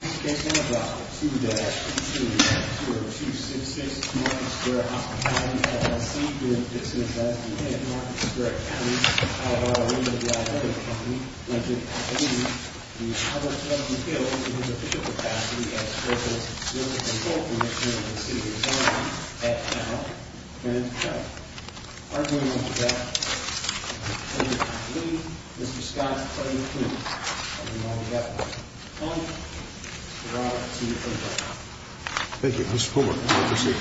This case is on file 2-2-0266 Market Square Hospitality LLC v. Dixon & Johnson in Market Square County, Colorado. We know that the iHealthy Company went into activity the other day in Hill in his official capacity as President's Business Consultant here in the City of Des Moines at Mount Grant County. We are doing all we can to lead Mr. Scott's Pledge of Allegiance and we know we have to. Thank you. Mr. Poolberg, you may proceed.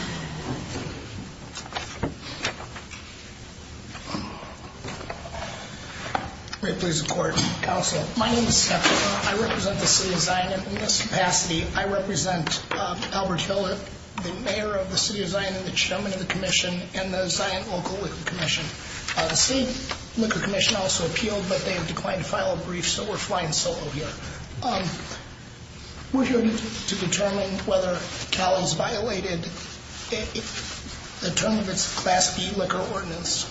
May it please the Court, Counsel. My name is Seth. I represent the City of Zion. In this capacity, I represent Albert Hill, the Mayor of the City of Zion and the Chairman of the Commission and the Zion Local Liquor Commission. The City Liquor Commission also appealed, but they have declined to file a brief, so we're flying solo here. We're here to determine whether Cali's violated the term of its Class B liquor ordinance.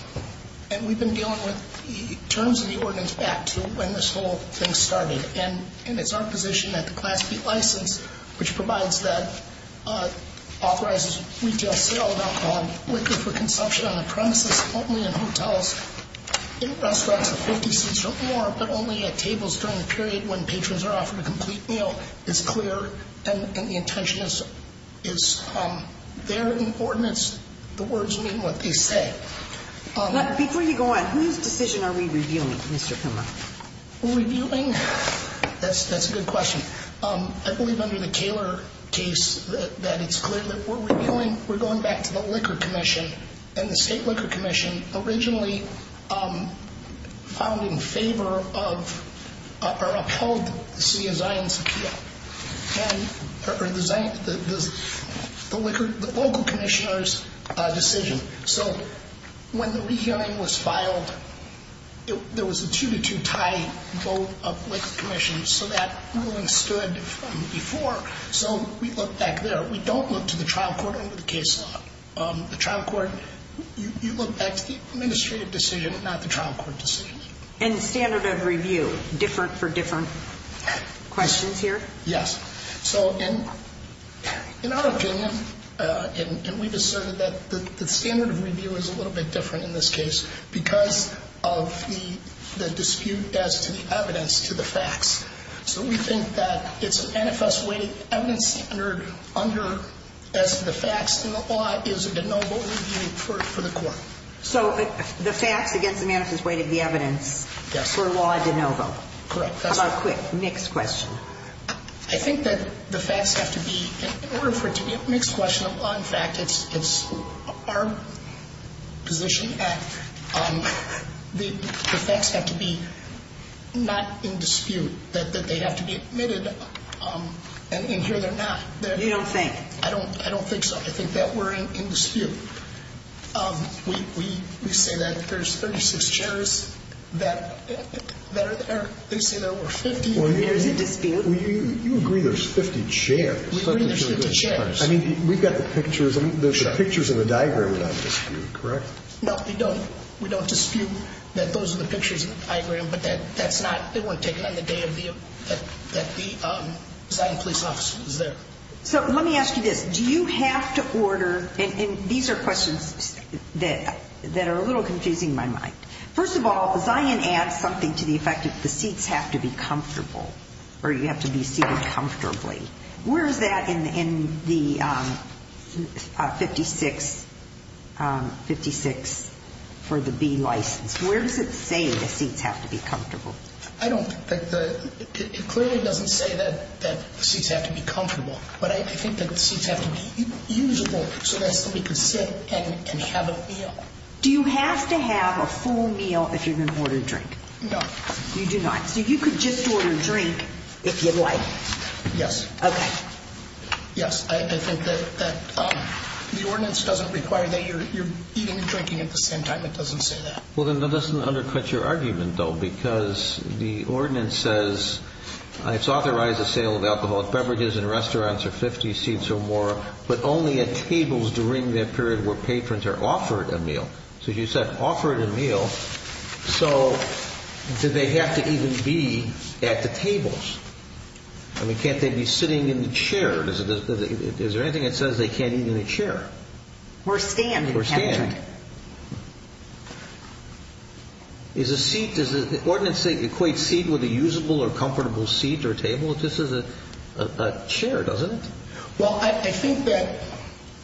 And we've been dealing with terms of the ordinance back to when this whole thing started. And it's our position that the Class B license, which provides that, authorizes retail sale of alcohol and liquor for consumption on the premises, only in hotels, in restaurants with 50 seats or more, but only at tables during the period when patrons are offered a complete meal, is clear. And the intention is, there in the ordinance, the words mean what they say. Before you go on, whose decision are we reviewing, Mr. Kummer? Reviewing? That's a good question. I believe under the Kaler case that it's clear that we're reviewing, we're going back to the Liquor Commission. And the State Liquor Commission originally filed in favor of or upheld the City of Zion's appeal, or the local commissioner's decision. So when the rehearing was filed, there was a two-to-two tie vote of the Liquor Commission, so that ruling stood from before. So we look back there. We don't look to the trial court under the case law. The trial court, you look back to the administrative decision, not the trial court decision. And standard of review, different for different questions here? Yes. So in our opinion, and we've asserted that the standard of review is a little bit different in this case, because of the dispute as to the evidence to the facts. So we think that it's an NFS-weighted evidence standard under, as to the facts, and the law is a de novo review for the court. So the facts against the manifest weight of the evidence for law de novo. Correct. Next question. I think that the facts have to be, in order for it to be a mixed question of law and fact, it's our position that the facts have to be not in dispute, that they have to be admitted, and here they're not. You don't think? I don't think so. I think that we're in dispute. We say that there's 36 chairs that are there. They say there were 50. There's a dispute? You agree there's 50 chairs. We agree there's 50 chairs. I mean, we've got the pictures. The pictures in the diagram are not in dispute, correct? No, we don't. We don't dispute that those are the pictures in the diagram, but that's not, they weren't taken on the day that the deciding police officer was there. So let me ask you this. Do you have to order, and these are questions that are a little confusing in my mind. First of all, Zion adds something to the effect that the seats have to be comfortable, or you have to be seated comfortably. Where is that in the 56, 56 for the B license? Where does it say the seats have to be comfortable? I don't, it clearly doesn't say that the seats have to be comfortable, but I think that the seats have to be usable so that somebody can sit and have a meal. Do you have to have a full meal if you're going to order a drink? No. You do not. So you could just order a drink if you'd like? Yes. Okay. Yes, I think that the ordinance doesn't require that you're eating and drinking at the same time. It doesn't say that. Well, then that doesn't undercut your argument, though, because the ordinance says it's authorized the sale of alcoholic beverages in restaurants or 50 seats or more, but only at tables during that period where patrons are offered a meal. So you said offered a meal. So do they have to even be at the tables? I mean, can't they be sitting in the chair? Is there anything that says they can't eat in a chair? Or stand in a chair. Or stand. Does the ordinance equate seat with a usable or comfortable seat or table? This is a chair, doesn't it? Well, I think that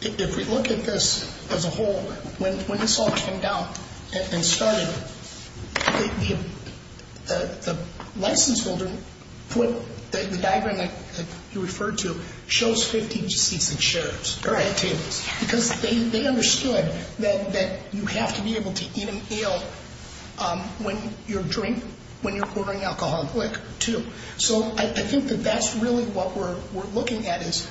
if we look at this as a whole, when this all came down and started, the license holder, the diagram that you referred to, chose 50 seats and chairs. Right. Because they understood that you have to be able to eat and feel when you're drinking, when you're ordering alcoholic liquor, too. So I think that that's really what we're looking at is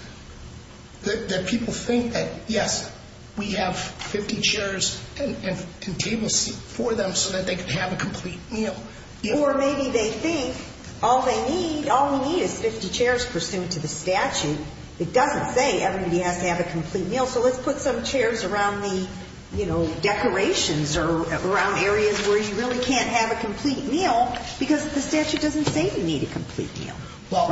that people think that, yes, we have 50 chairs and tables for them so that they can have a complete meal. Or maybe they think all we need is 50 chairs pursuant to the statute. It doesn't say everybody has to have a complete meal, so let's put some chairs around the decorations or around areas where you really can't have a complete meal because the statute doesn't say you need a complete meal. Well,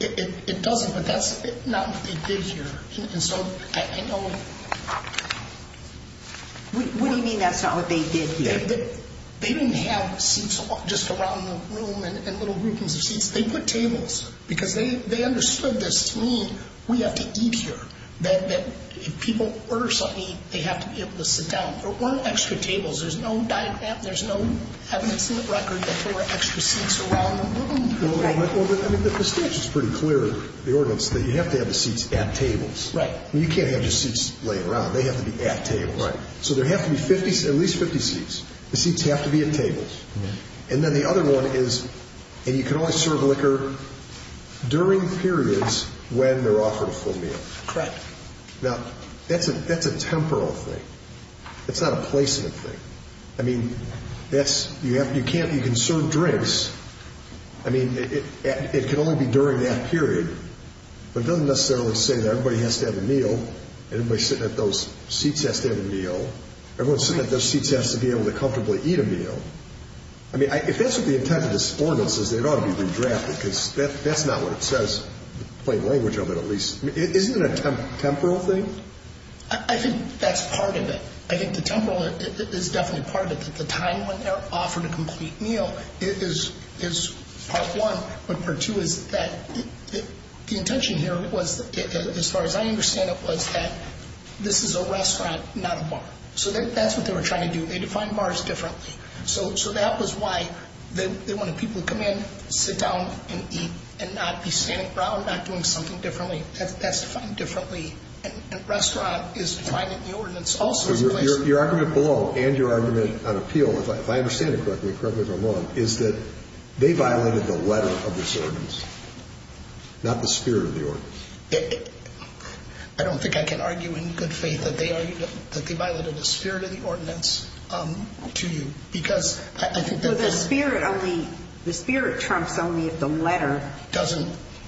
it doesn't, but that's not what they did here. What do you mean that's not what they did here? They didn't have seats just around the room and little groupings of seats. They put tables because they understood this to mean we have to eat here, that if people order something to eat, they have to be able to sit down. There weren't extra tables. There's no diagram, there's no evidence in the record that there were extra seats around the room. The statute's pretty clear, the ordinance, that you have to have the seats at tables. You can't have just seats laying around. They have to be at tables. So there have to be at least 50 seats. The seats have to be at tables. And then the other one is you can only serve liquor during periods when they're offered a full meal. Now, that's a temporal thing. It's not a placement thing. I mean, you can serve drinks. I mean, it can only be during that period. But it doesn't necessarily say that everybody has to have a meal, everybody sitting at those seats has to have a meal. Everyone sitting at those seats has to be able to comfortably eat a meal. I mean, if that's what the intent of this ordinance is, it ought to be redrafted because that's not what it says, plain language of it at least. Isn't it a temporal thing? I think that's part of it. I think the temporal is definitely part of it. At the time when they're offered a complete meal, it is part one. But part two is that the intention here was, as far as I understand it, was that this is a restaurant, not a bar. So that's what they were trying to do. They defined bars differently. So that was why they wanted people to come in, sit down, and eat, and not be standing around, not doing something differently. A restaurant is defined in the ordinance also as a place. Your argument below, and your argument on appeal, if I understand it correctly, correct me if I'm wrong, is that they violated the letter of this ordinance, not the spirit of the ordinance. I don't think I can argue in good faith that they violated the spirit of the ordinance to you. Because I think that's... The spirit trumps only if the letter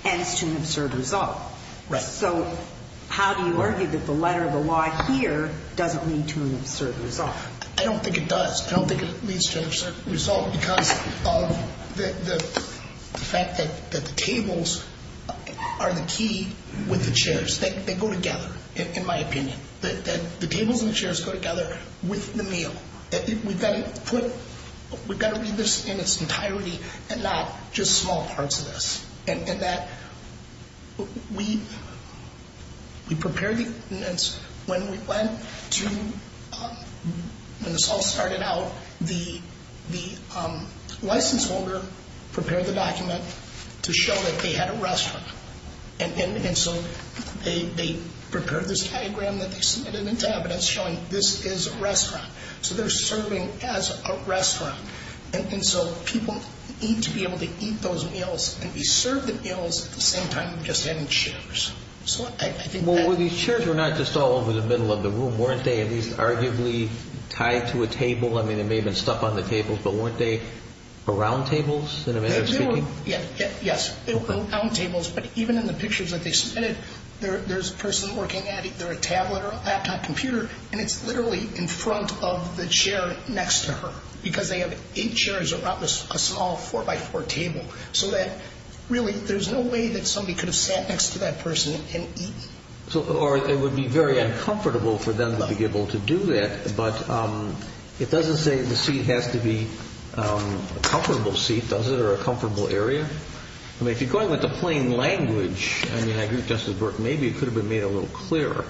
ends to an absurd result. Right. So how do you argue that the letter of the law here doesn't lead to an absurd result? I don't think it does. I don't think it leads to an absurd result because of the fact that the tables are the key with the chairs. They go together, in my opinion. The tables and the chairs go together with the meal. We've got to read this in its entirety and not just small parts of this. And that we prepared the ordinance when we went to... When this all started out, the license holder prepared the document to show that they had a restaurant. And so they prepared this diagram that they submitted into evidence showing this is a restaurant. And so people need to be able to eat those meals and be served the meals at the same time just having chairs. So I think that... Well, these chairs were not just all over the middle of the room. Weren't they at least arguably tied to a table? I mean, there may have been stuff on the tables. But weren't they around tables, in a manner of speaking? Yes, around tables. But even in the pictures that they submitted, there's a person working at it. They're a tablet or a laptop computer. And it's literally in front of the chair next to her. Because they have eight chairs around this small four-by-four table. So that really there's no way that somebody could have sat next to that person and eaten. Or it would be very uncomfortable for them to be able to do that. But it doesn't say the seat has to be a comfortable seat, does it, or a comfortable area? I mean, if you're going with the plain language, I mean, I agree with Justice Burke, maybe it could have been made a little clearer.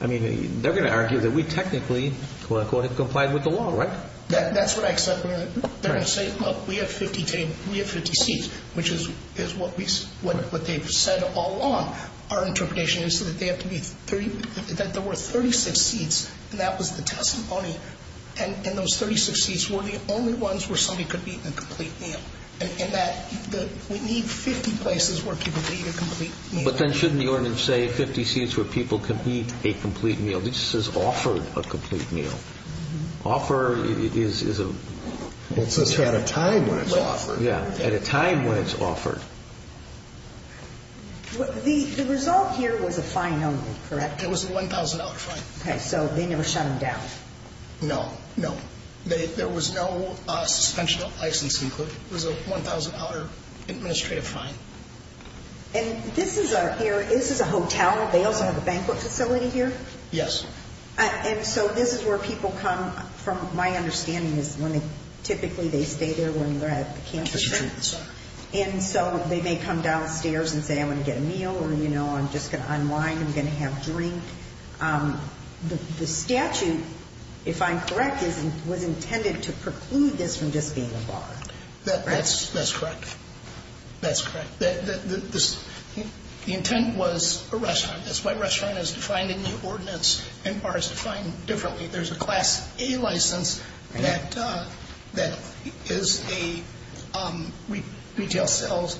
I mean, they're going to argue that we technically, quote-unquote, have complied with the law, right? That's what I said. They're going to say, look, we have 50 seats, which is what they've said all along. Our interpretation is that there were 36 seats, and that was the testimony. And those 36 seats were the only ones where somebody could be eaten a complete meal. And that we need 50 places where people could eat a complete meal. But then shouldn't the ordinance say 50 seats where people could eat a complete meal? This says offered a complete meal. Offer is a- It says here at a time when it's offered. Yeah, at a time when it's offered. The result here was a fine only, correct? It was a $1,000 fine. Okay, so they never shut them down? No, no. There was no suspension of licensing. It was a $1,000 administrative fine. And this is a hotel. They also have a banquet facility here? Yes. And so this is where people come from my understanding is when they typically they stay there when they're at the campus. And so they may come downstairs and say, I'm going to get a meal, or, you know, I'm just going to unwind, I'm going to have a drink. The statute, if I'm correct, was intended to preclude this from just being a bar. That's correct. That's correct. The intent was a restaurant. That's why restaurant is defined in the ordinance and bar is defined differently. There's a Class A license that is a retail sales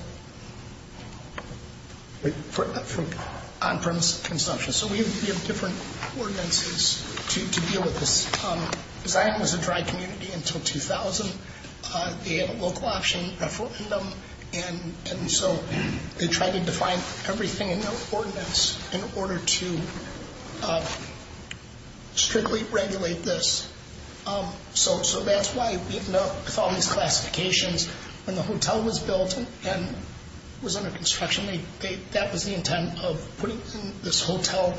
on-premise consumption. So we have different ordinances to deal with this. Zion was a dry community until 2000. They had a local option referendum, and so they tried to define everything in their ordinance in order to strictly regulate this. So that's why we have all these classifications. When the hotel was built and was under construction, that was the intent of putting in this hotel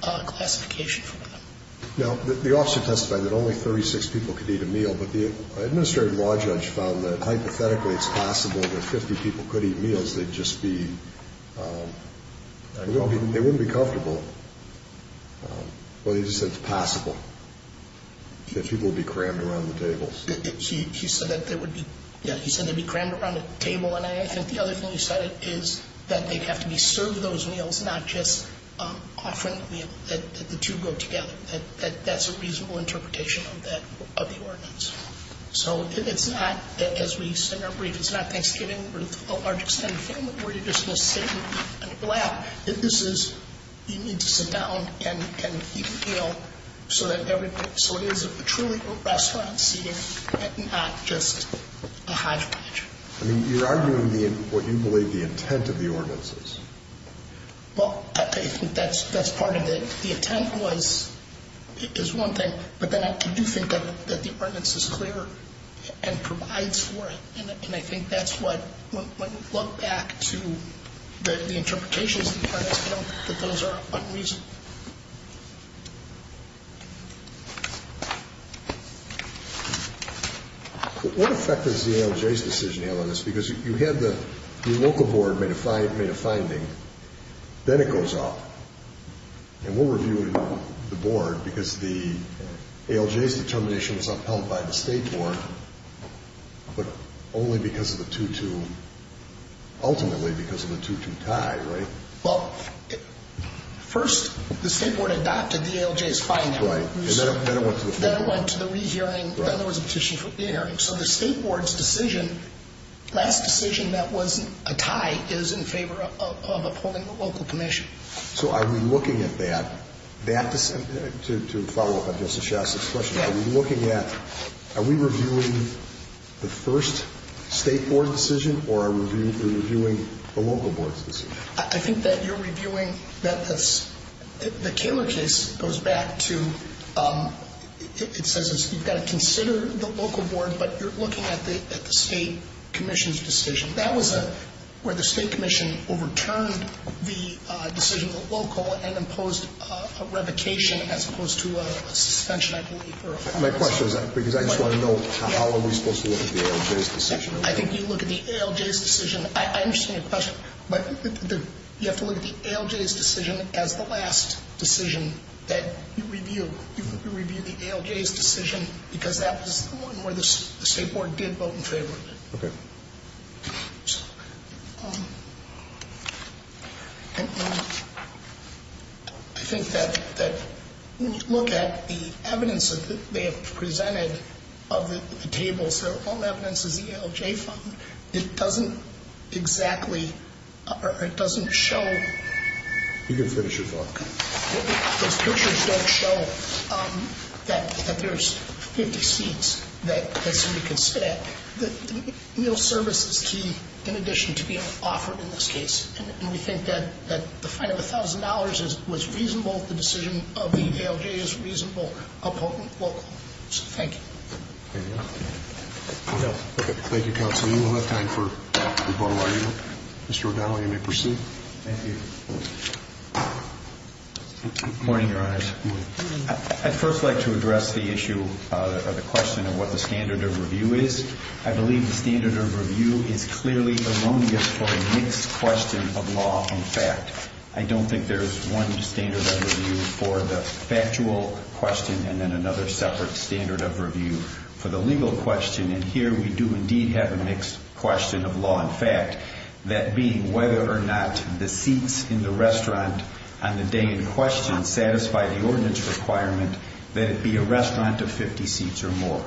classification for them. Now, the officer testified that only 36 people could eat a meal, but the administrative law judge found that hypothetically it's possible that 50 people could eat meals. They'd just be – they wouldn't be comfortable. But he just said it's possible that people would be crammed around the tables. He said that they would be – yeah, he said they'd be crammed around a table, and I think the other thing he said is that they'd have to be served those meals, not just offering a meal, that the two go together. That's a reasonable interpretation of that – of the ordinance. So it's not – as we celebrate, it's not Thanksgiving with a large extended family where you're just going to sit and laugh. This is – you need to sit down and eat a meal so that everybody – so it is truly a restaurant seating and not just a hodgepodge. I mean, you're arguing the – what you believe the intent of the ordinance is. Well, I think that's part of it. The intent was – is one thing, but then I do think that the ordinance is clearer and provides for it, and I think that's what – when we look back to the interpretations, you know, that those are unreasonable. Yes. What effect does the ALJ's decision have on this? Because you had the local board made a finding. Then it goes off. And we're reviewing the board because the ALJ's determination was upheld by the state board, but only because of the 2-2 – ultimately because of the 2-2 tie, right? Well, first the state board adopted the ALJ's finding. Right. And then it went to the – Then it went to the rehearing. Right. Then there was a petition for the hearing. So the state board's decision, last decision that was a tie, is in favor of upholding the local commission. So are we looking at that – that – to follow up on Justice Shasta's question. Yes. Are we looking at – are we reviewing the first state board decision or are we reviewing the local board's decision? I think that you're reviewing – that's – the Kaler case goes back to – it says you've got to consider the local board, but you're looking at the state commission's decision. That was where the state commission overturned the decision of the local and imposed a revocation as opposed to a suspension, I believe. My question is – because I just want to know how are we supposed to look at the ALJ's decision? I think you look at the ALJ's decision. I understand your question. But you have to look at the ALJ's decision as the last decision that you review. You review the ALJ's decision because that was the one where the state board did vote in favor of it. Okay. I think that when you look at the evidence that they have presented of the tables, their own evidence is the ALJ fund, it doesn't exactly – it doesn't show – You can finish your thought. Those pictures don't show that there's 50 seats that somebody can sit at. The meal service is key in addition to being offered in this case, and we think that the fine of $1,000 was reasonable. The decision of the ALJ is reasonable, a potent local. So thank you. Anything else? No. Okay. Thank you, counsel. You will have time for rebuttal. Mr. O'Donnell, you may proceed. Thank you. Good morning, Your Honors. Good morning. I'd first like to address the issue of the question of what the standard of review is. I believe the standard of review is clearly erroneous for a mixed question of law and fact. I don't think there's one standard of review for the factual question and then another separate standard of review for the legal question. And here we do indeed have a mixed question of law and fact, that being whether or not the seats in the restaurant on the day in question satisfy the ordinance requirement that it be a restaurant of 50 seats or more.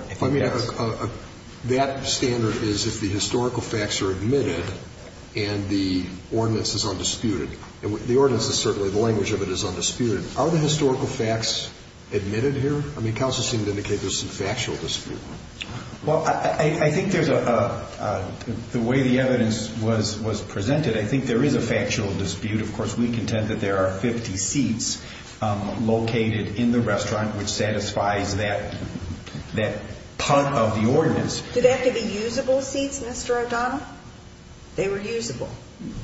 That standard is if the historical facts are admitted and the ordinance is undisputed. The ordinance is certainly, the language of it is undisputed. Are the historical facts admitted here? I mean, counsel seemed to indicate there's some factual dispute. Well, I think there's a, the way the evidence was presented, I think there is a factual dispute. Of course, we contend that there are 50 seats located in the restaurant which satisfies that part of the ordinance. Do they have to be usable seats, Mr. O'Donnell? They were usable.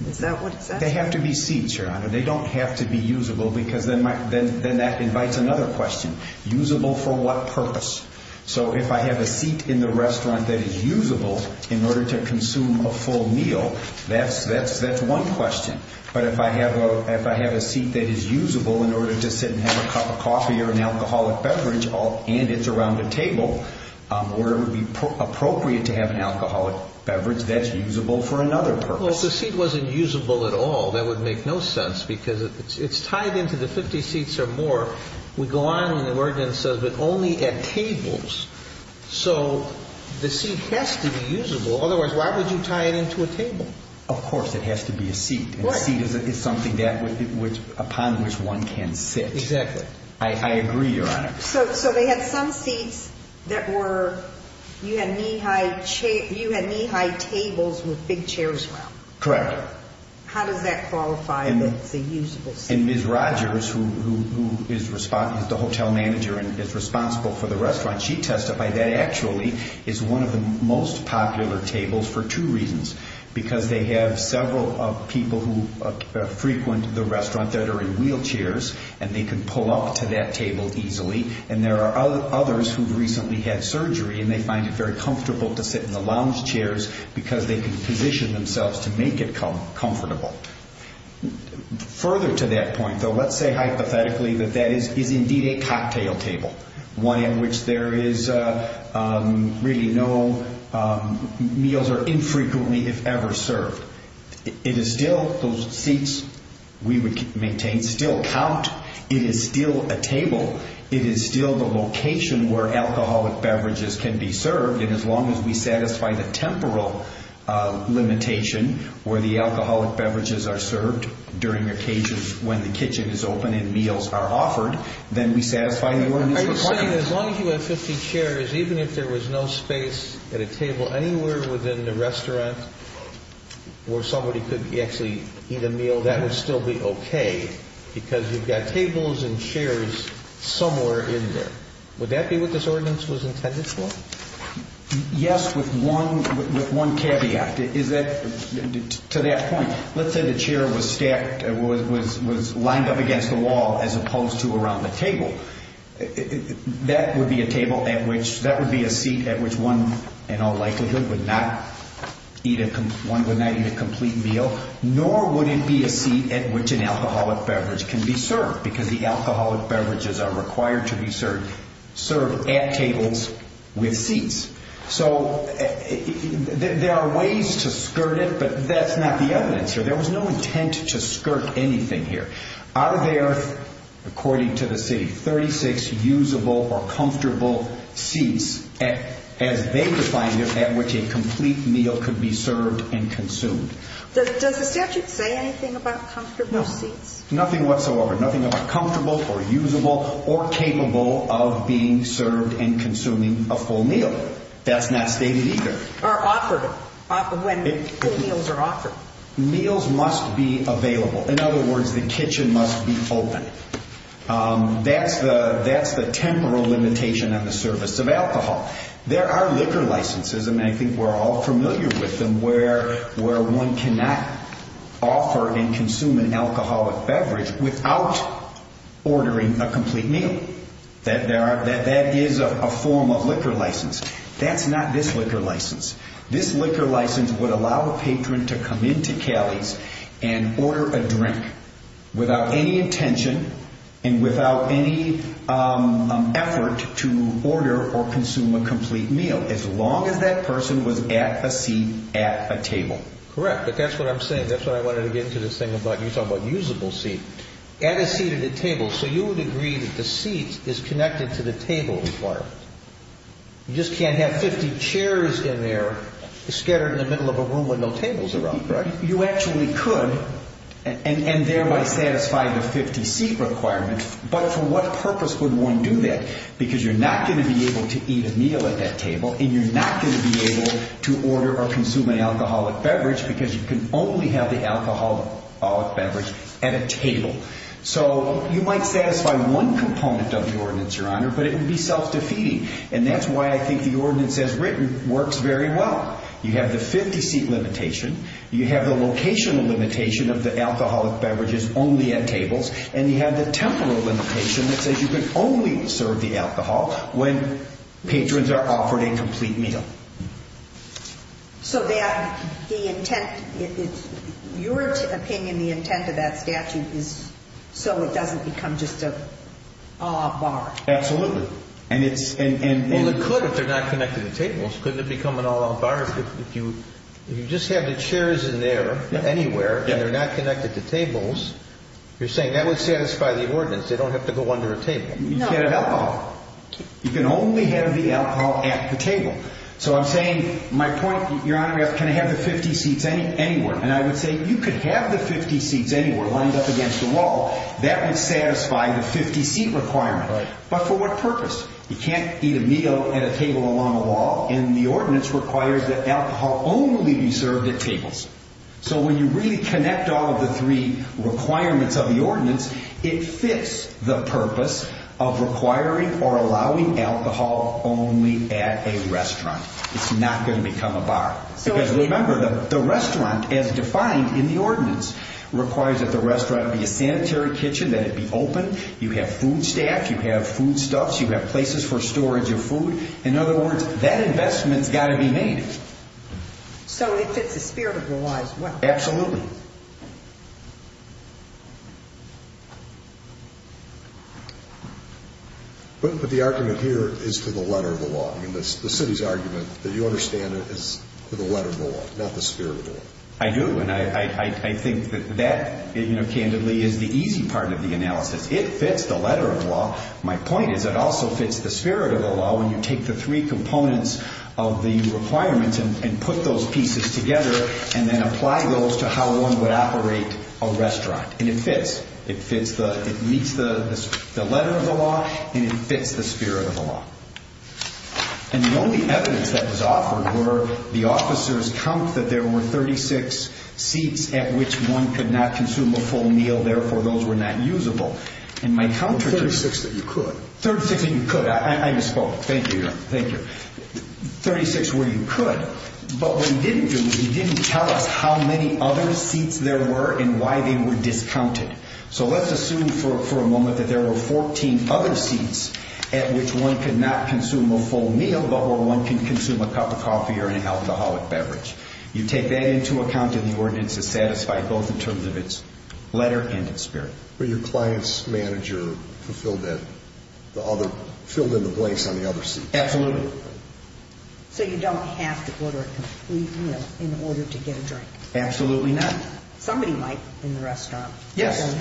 Is that what it says? They have to be seats, Your Honor. They don't have to be usable because then that invites another question. Usable for what purpose? So if I have a seat in the restaurant that is usable in order to consume a full meal, that's one question. But if I have a seat that is usable in order to sit and have a cup of coffee or an alcoholic beverage and it's around a table, would it be appropriate to have an alcoholic beverage that's usable for another purpose? Well, if the seat wasn't usable at all, that would make no sense because it's tied into the 50 seats or more. We go on and the ordinance says but only at tables. So the seat has to be usable. Otherwise, why would you tie it into a table? Of course it has to be a seat. A seat is something upon which one can sit. Exactly. I agree, Your Honor. So they had some seats that were, you had knee-high tables with big chairs around. Correct. How does that qualify that it's a usable seat? And Ms. Rogers, who is the hotel manager and is responsible for the restaurant, she testified that actually is one of the most popular tables for two reasons. Because they have several people who frequent the restaurant that are in wheelchairs and they can pull up to that table easily. And there are others who've recently had surgery and they find it very comfortable to sit in the lounge chairs because they can position themselves to make it comfortable. Further to that point, though, let's say hypothetically that that is indeed a cocktail table, one in which there is really no, meals are infrequently, if ever, served. It is still, those seats we maintain still count. It is still a table. It is still the location where alcoholic beverages can be served. And as long as we satisfy the temporal limitation where the alcoholic beverages are served Are you saying that as long as you have 50 chairs, even if there was no space at a table anywhere within the restaurant where somebody could actually eat a meal, that would still be okay? Because you've got tables and chairs somewhere in there. Would that be what this ordinance was intended for? Yes, with one caveat. To that point, let's say the chair was stacked, was lined up against the wall as opposed to around the table. That would be a table at which, that would be a seat at which one in all likelihood would not eat a complete meal, nor would it be a seat at which an alcoholic beverage can be served because the alcoholic beverages are required to be served at tables with seats. So there are ways to skirt it, but that's not the evidence here. There was no intent to skirt anything here. Are there, according to the city, 36 usable or comfortable seats as they defined it at which a complete meal could be served and consumed? Does the statute say anything about comfortable seats? No, nothing whatsoever, nothing about comfortable or usable or capable of being served and consuming a full meal. That's not stated either. Or offered, when meals are offered. Meals must be available. In other words, the kitchen must be open. That's the temporal limitation on the service of alcohol. There are liquor licenses, and I think we're all familiar with them, where one cannot offer and consume an alcoholic beverage without ordering a complete meal. That is a form of liquor license. That's not this liquor license. This liquor license would allow a patron to come into Cali's and order a drink without any intention and without any effort to order or consume a complete meal, as long as that person was at a seat at a table. Correct, but that's what I'm saying. That's what I wanted to get into this thing about you talking about usable seats. At a seat at a table. So you would agree that the seat is connected to the table requirement. You just can't have 50 chairs in there scattered in the middle of a room with no tables around, right? You actually could, and thereby satisfy the 50-seat requirement, but for what purpose would one do that? Because you're not going to be able to eat a meal at that table, and you're not going to be able to order or consume an alcoholic beverage So you might satisfy one component of the ordinance, Your Honor, but it would be self-defeating, and that's why I think the ordinance as written works very well. You have the 50-seat limitation. You have the locational limitation of the alcoholic beverages only at tables, and you have the temporal limitation that says you can only serve the alcohol when patrons are offered a complete meal. So that the intent, in your opinion, the intent of that statute is so it doesn't become just an all-out bar? Absolutely. Well, it could if they're not connected to tables. Couldn't it become an all-out bar if you just have the chairs in there, anywhere, and they're not connected to tables? You're saying that would satisfy the ordinance. They don't have to go under a table. You can't have alcohol. You can only have the alcohol at the table. So I'm saying my point, Your Honor, is can I have the 50 seats anywhere? And I would say you could have the 50 seats anywhere lined up against the wall. That would satisfy the 50-seat requirement. But for what purpose? You can't eat a meal at a table along a wall, and the ordinance requires that alcohol only be served at tables. So when you really connect all of the three requirements of the ordinance, it fits the purpose of requiring or allowing alcohol only at a restaurant. It's not going to become a bar. Because remember, the restaurant, as defined in the ordinance, requires that the restaurant be a sanitary kitchen, that it be open, you have food staff, you have foodstuffs, you have places for storage of food. In other words, that investment's got to be made. So it fits the spirit of the law as well. Absolutely. But the argument here is for the letter of the law. I mean, the city's argument that you understand is for the letter of the law, not the spirit of the law. I do, and I think that that, candidly, is the easy part of the analysis. It fits the letter of the law. My point is it also fits the spirit of the law when you take the three components of the requirements and put those pieces together And it fits. It meets the letter of the law, and it fits the spirit of the law. And the only evidence that was offered were the officers count that there were 36 seats at which one could not consume a full meal, therefore those were not usable. There were 36 that you could. 36 that you could. I misspoke. Thank you, Your Honor. Thank you. 36 where you could. But what he didn't do, he didn't tell us how many other seats there were and why they were discounted. So let's assume for a moment that there were 14 other seats at which one could not consume a full meal, but where one can consume a cup of coffee or an alcoholic beverage. You take that into account, and the ordinance is satisfied both in terms of its letter and its spirit. Were your client's manager who filled in the blanks on the other seats? Absolutely. So you don't have to order a complete meal in order to get a drink. Absolutely not. Somebody might in the restaurant. Yes.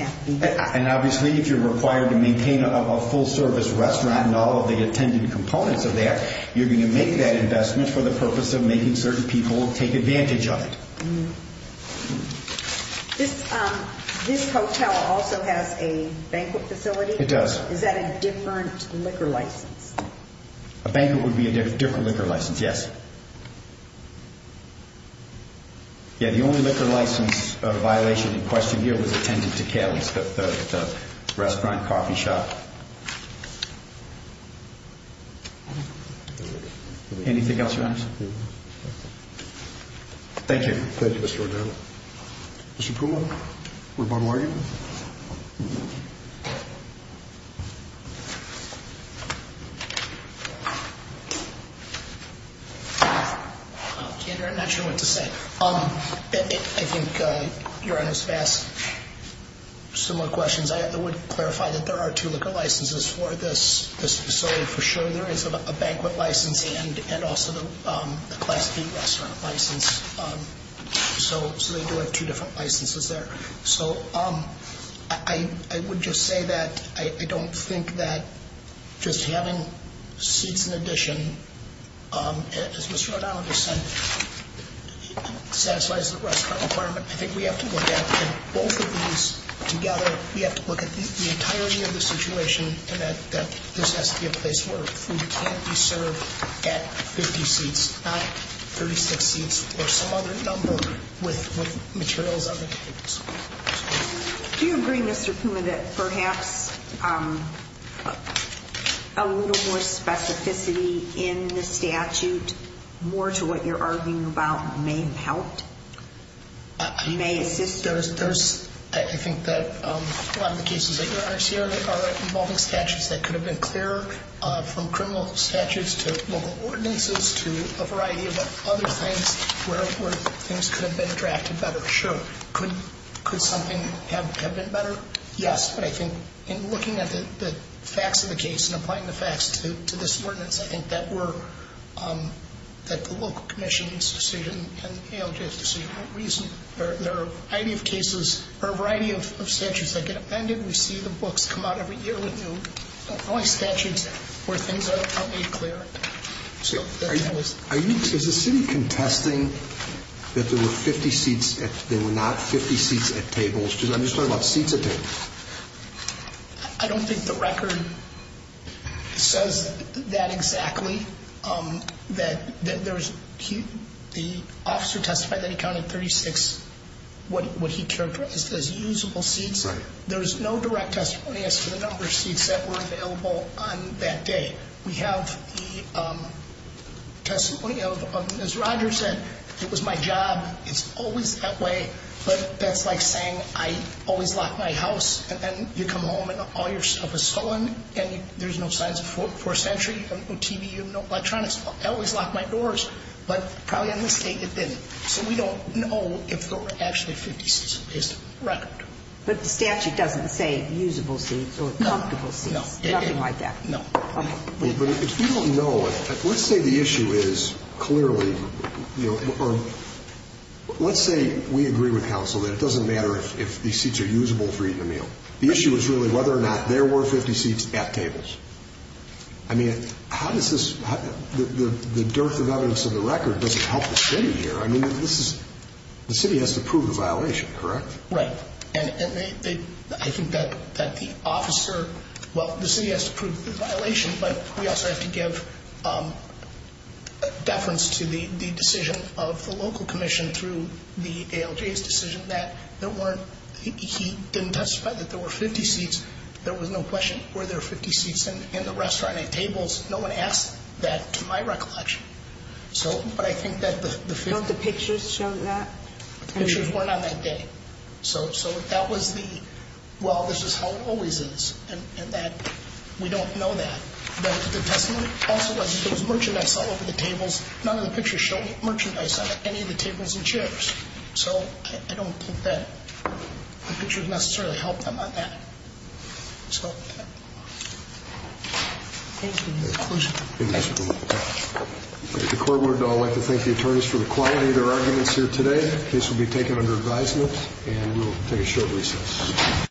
And obviously if you're required to maintain a full-service restaurant and all of the attendant components are there, you're going to make that investment for the purpose of making certain people take advantage of it. This hotel also has a banquet facility. It does. Is that a different liquor license? A banquet would be a different liquor license, yes. Yes. The only liquor license violation in question here was attendant to Kelly's, the restaurant coffee shop. Anything else, Your Honors? No. Thank you. Thank you, Mr. O'Donnell. Mr. Puma, Rebond-Morgan. I'm not sure what to say. I think Your Honors has asked similar questions. I would clarify that there are two liquor licenses for this facility. For sure there is a banquet license and also the Class B restaurant license. So they do have two different licenses there. So I would just say that I don't think that just having seats in addition, as Mr. O'Donnell just said, satisfies the restaurant requirement. I think we have to look at both of these together. We have to look at the entirety of the situation and that this has to be a place where food can't be served at 50 seats, not 36 seats or some other number with materials on the table. Do you agree, Mr. Puma, that perhaps a little more specificity in the statute, more to what you're arguing about, may help, may assist? I think that a lot of the cases that you're asking are involving statutes that could have been clearer from criminal statutes to local ordinances to a variety of other things where things could have been drafted better. Sure. Could something have been better? Yes, but I think in looking at the facts of the case and applying the facts to this ordinance, I think that the local commission's decision and ALJ's decision won't reason it. There are a variety of statutes that get amended. We see the books come out every year with new statutes where things are made clearer. Is the city contesting that there were not 50 seats at tables? I'm just talking about seats at tables. I don't think the record says that exactly. The officer testified that he counted 36 what he characterized as usable seats. There's no direct testimony as to the number of seats that were available on that day. We have the testimony of, as Roger said, it was my job. It's always that way, but that's like saying I always lock my house and then you come home and all your stuff is stolen and there's no signs of forced entry, no TV, no electronics. I always lock my doors, but probably on this date it didn't. So we don't know if there were actually 50 seats on the list of the record. But the statute doesn't say usable seats or comfortable seats? No. Nothing like that? No. But if we don't know, let's say the issue is clearly, or let's say we agree with counsel that it doesn't matter if these seats are usable for eating a meal. The issue is really whether or not there were 50 seats at tables. I mean, how does this, the dearth of evidence in the record doesn't help the city here. I mean, the city has to prove the violation, correct? Right. I think that the officer, well, the city has to prove the violation, but we also have to give deference to the decision of the local commission through the ALJ's decision that there weren't, he didn't testify that there were 50 seats. There was no question. Were there 50 seats in the restaurant at tables? No one asked that to my recollection. But I think that the 50- Don't the pictures show that? The pictures weren't on that day. So that was the, well, this is how it always is, and that we don't know that. But the testimony also wasn't, there was merchandise all over the tables. None of the pictures show merchandise on any of the tables and chairs. So I don't think that the pictures necessarily help them on that. So, thank you for your inclusion. Thank you, Mr. Doolittle. The court would like to thank the attorneys for the quality of their arguments here today. This will be taken under advisement and will take a short recess.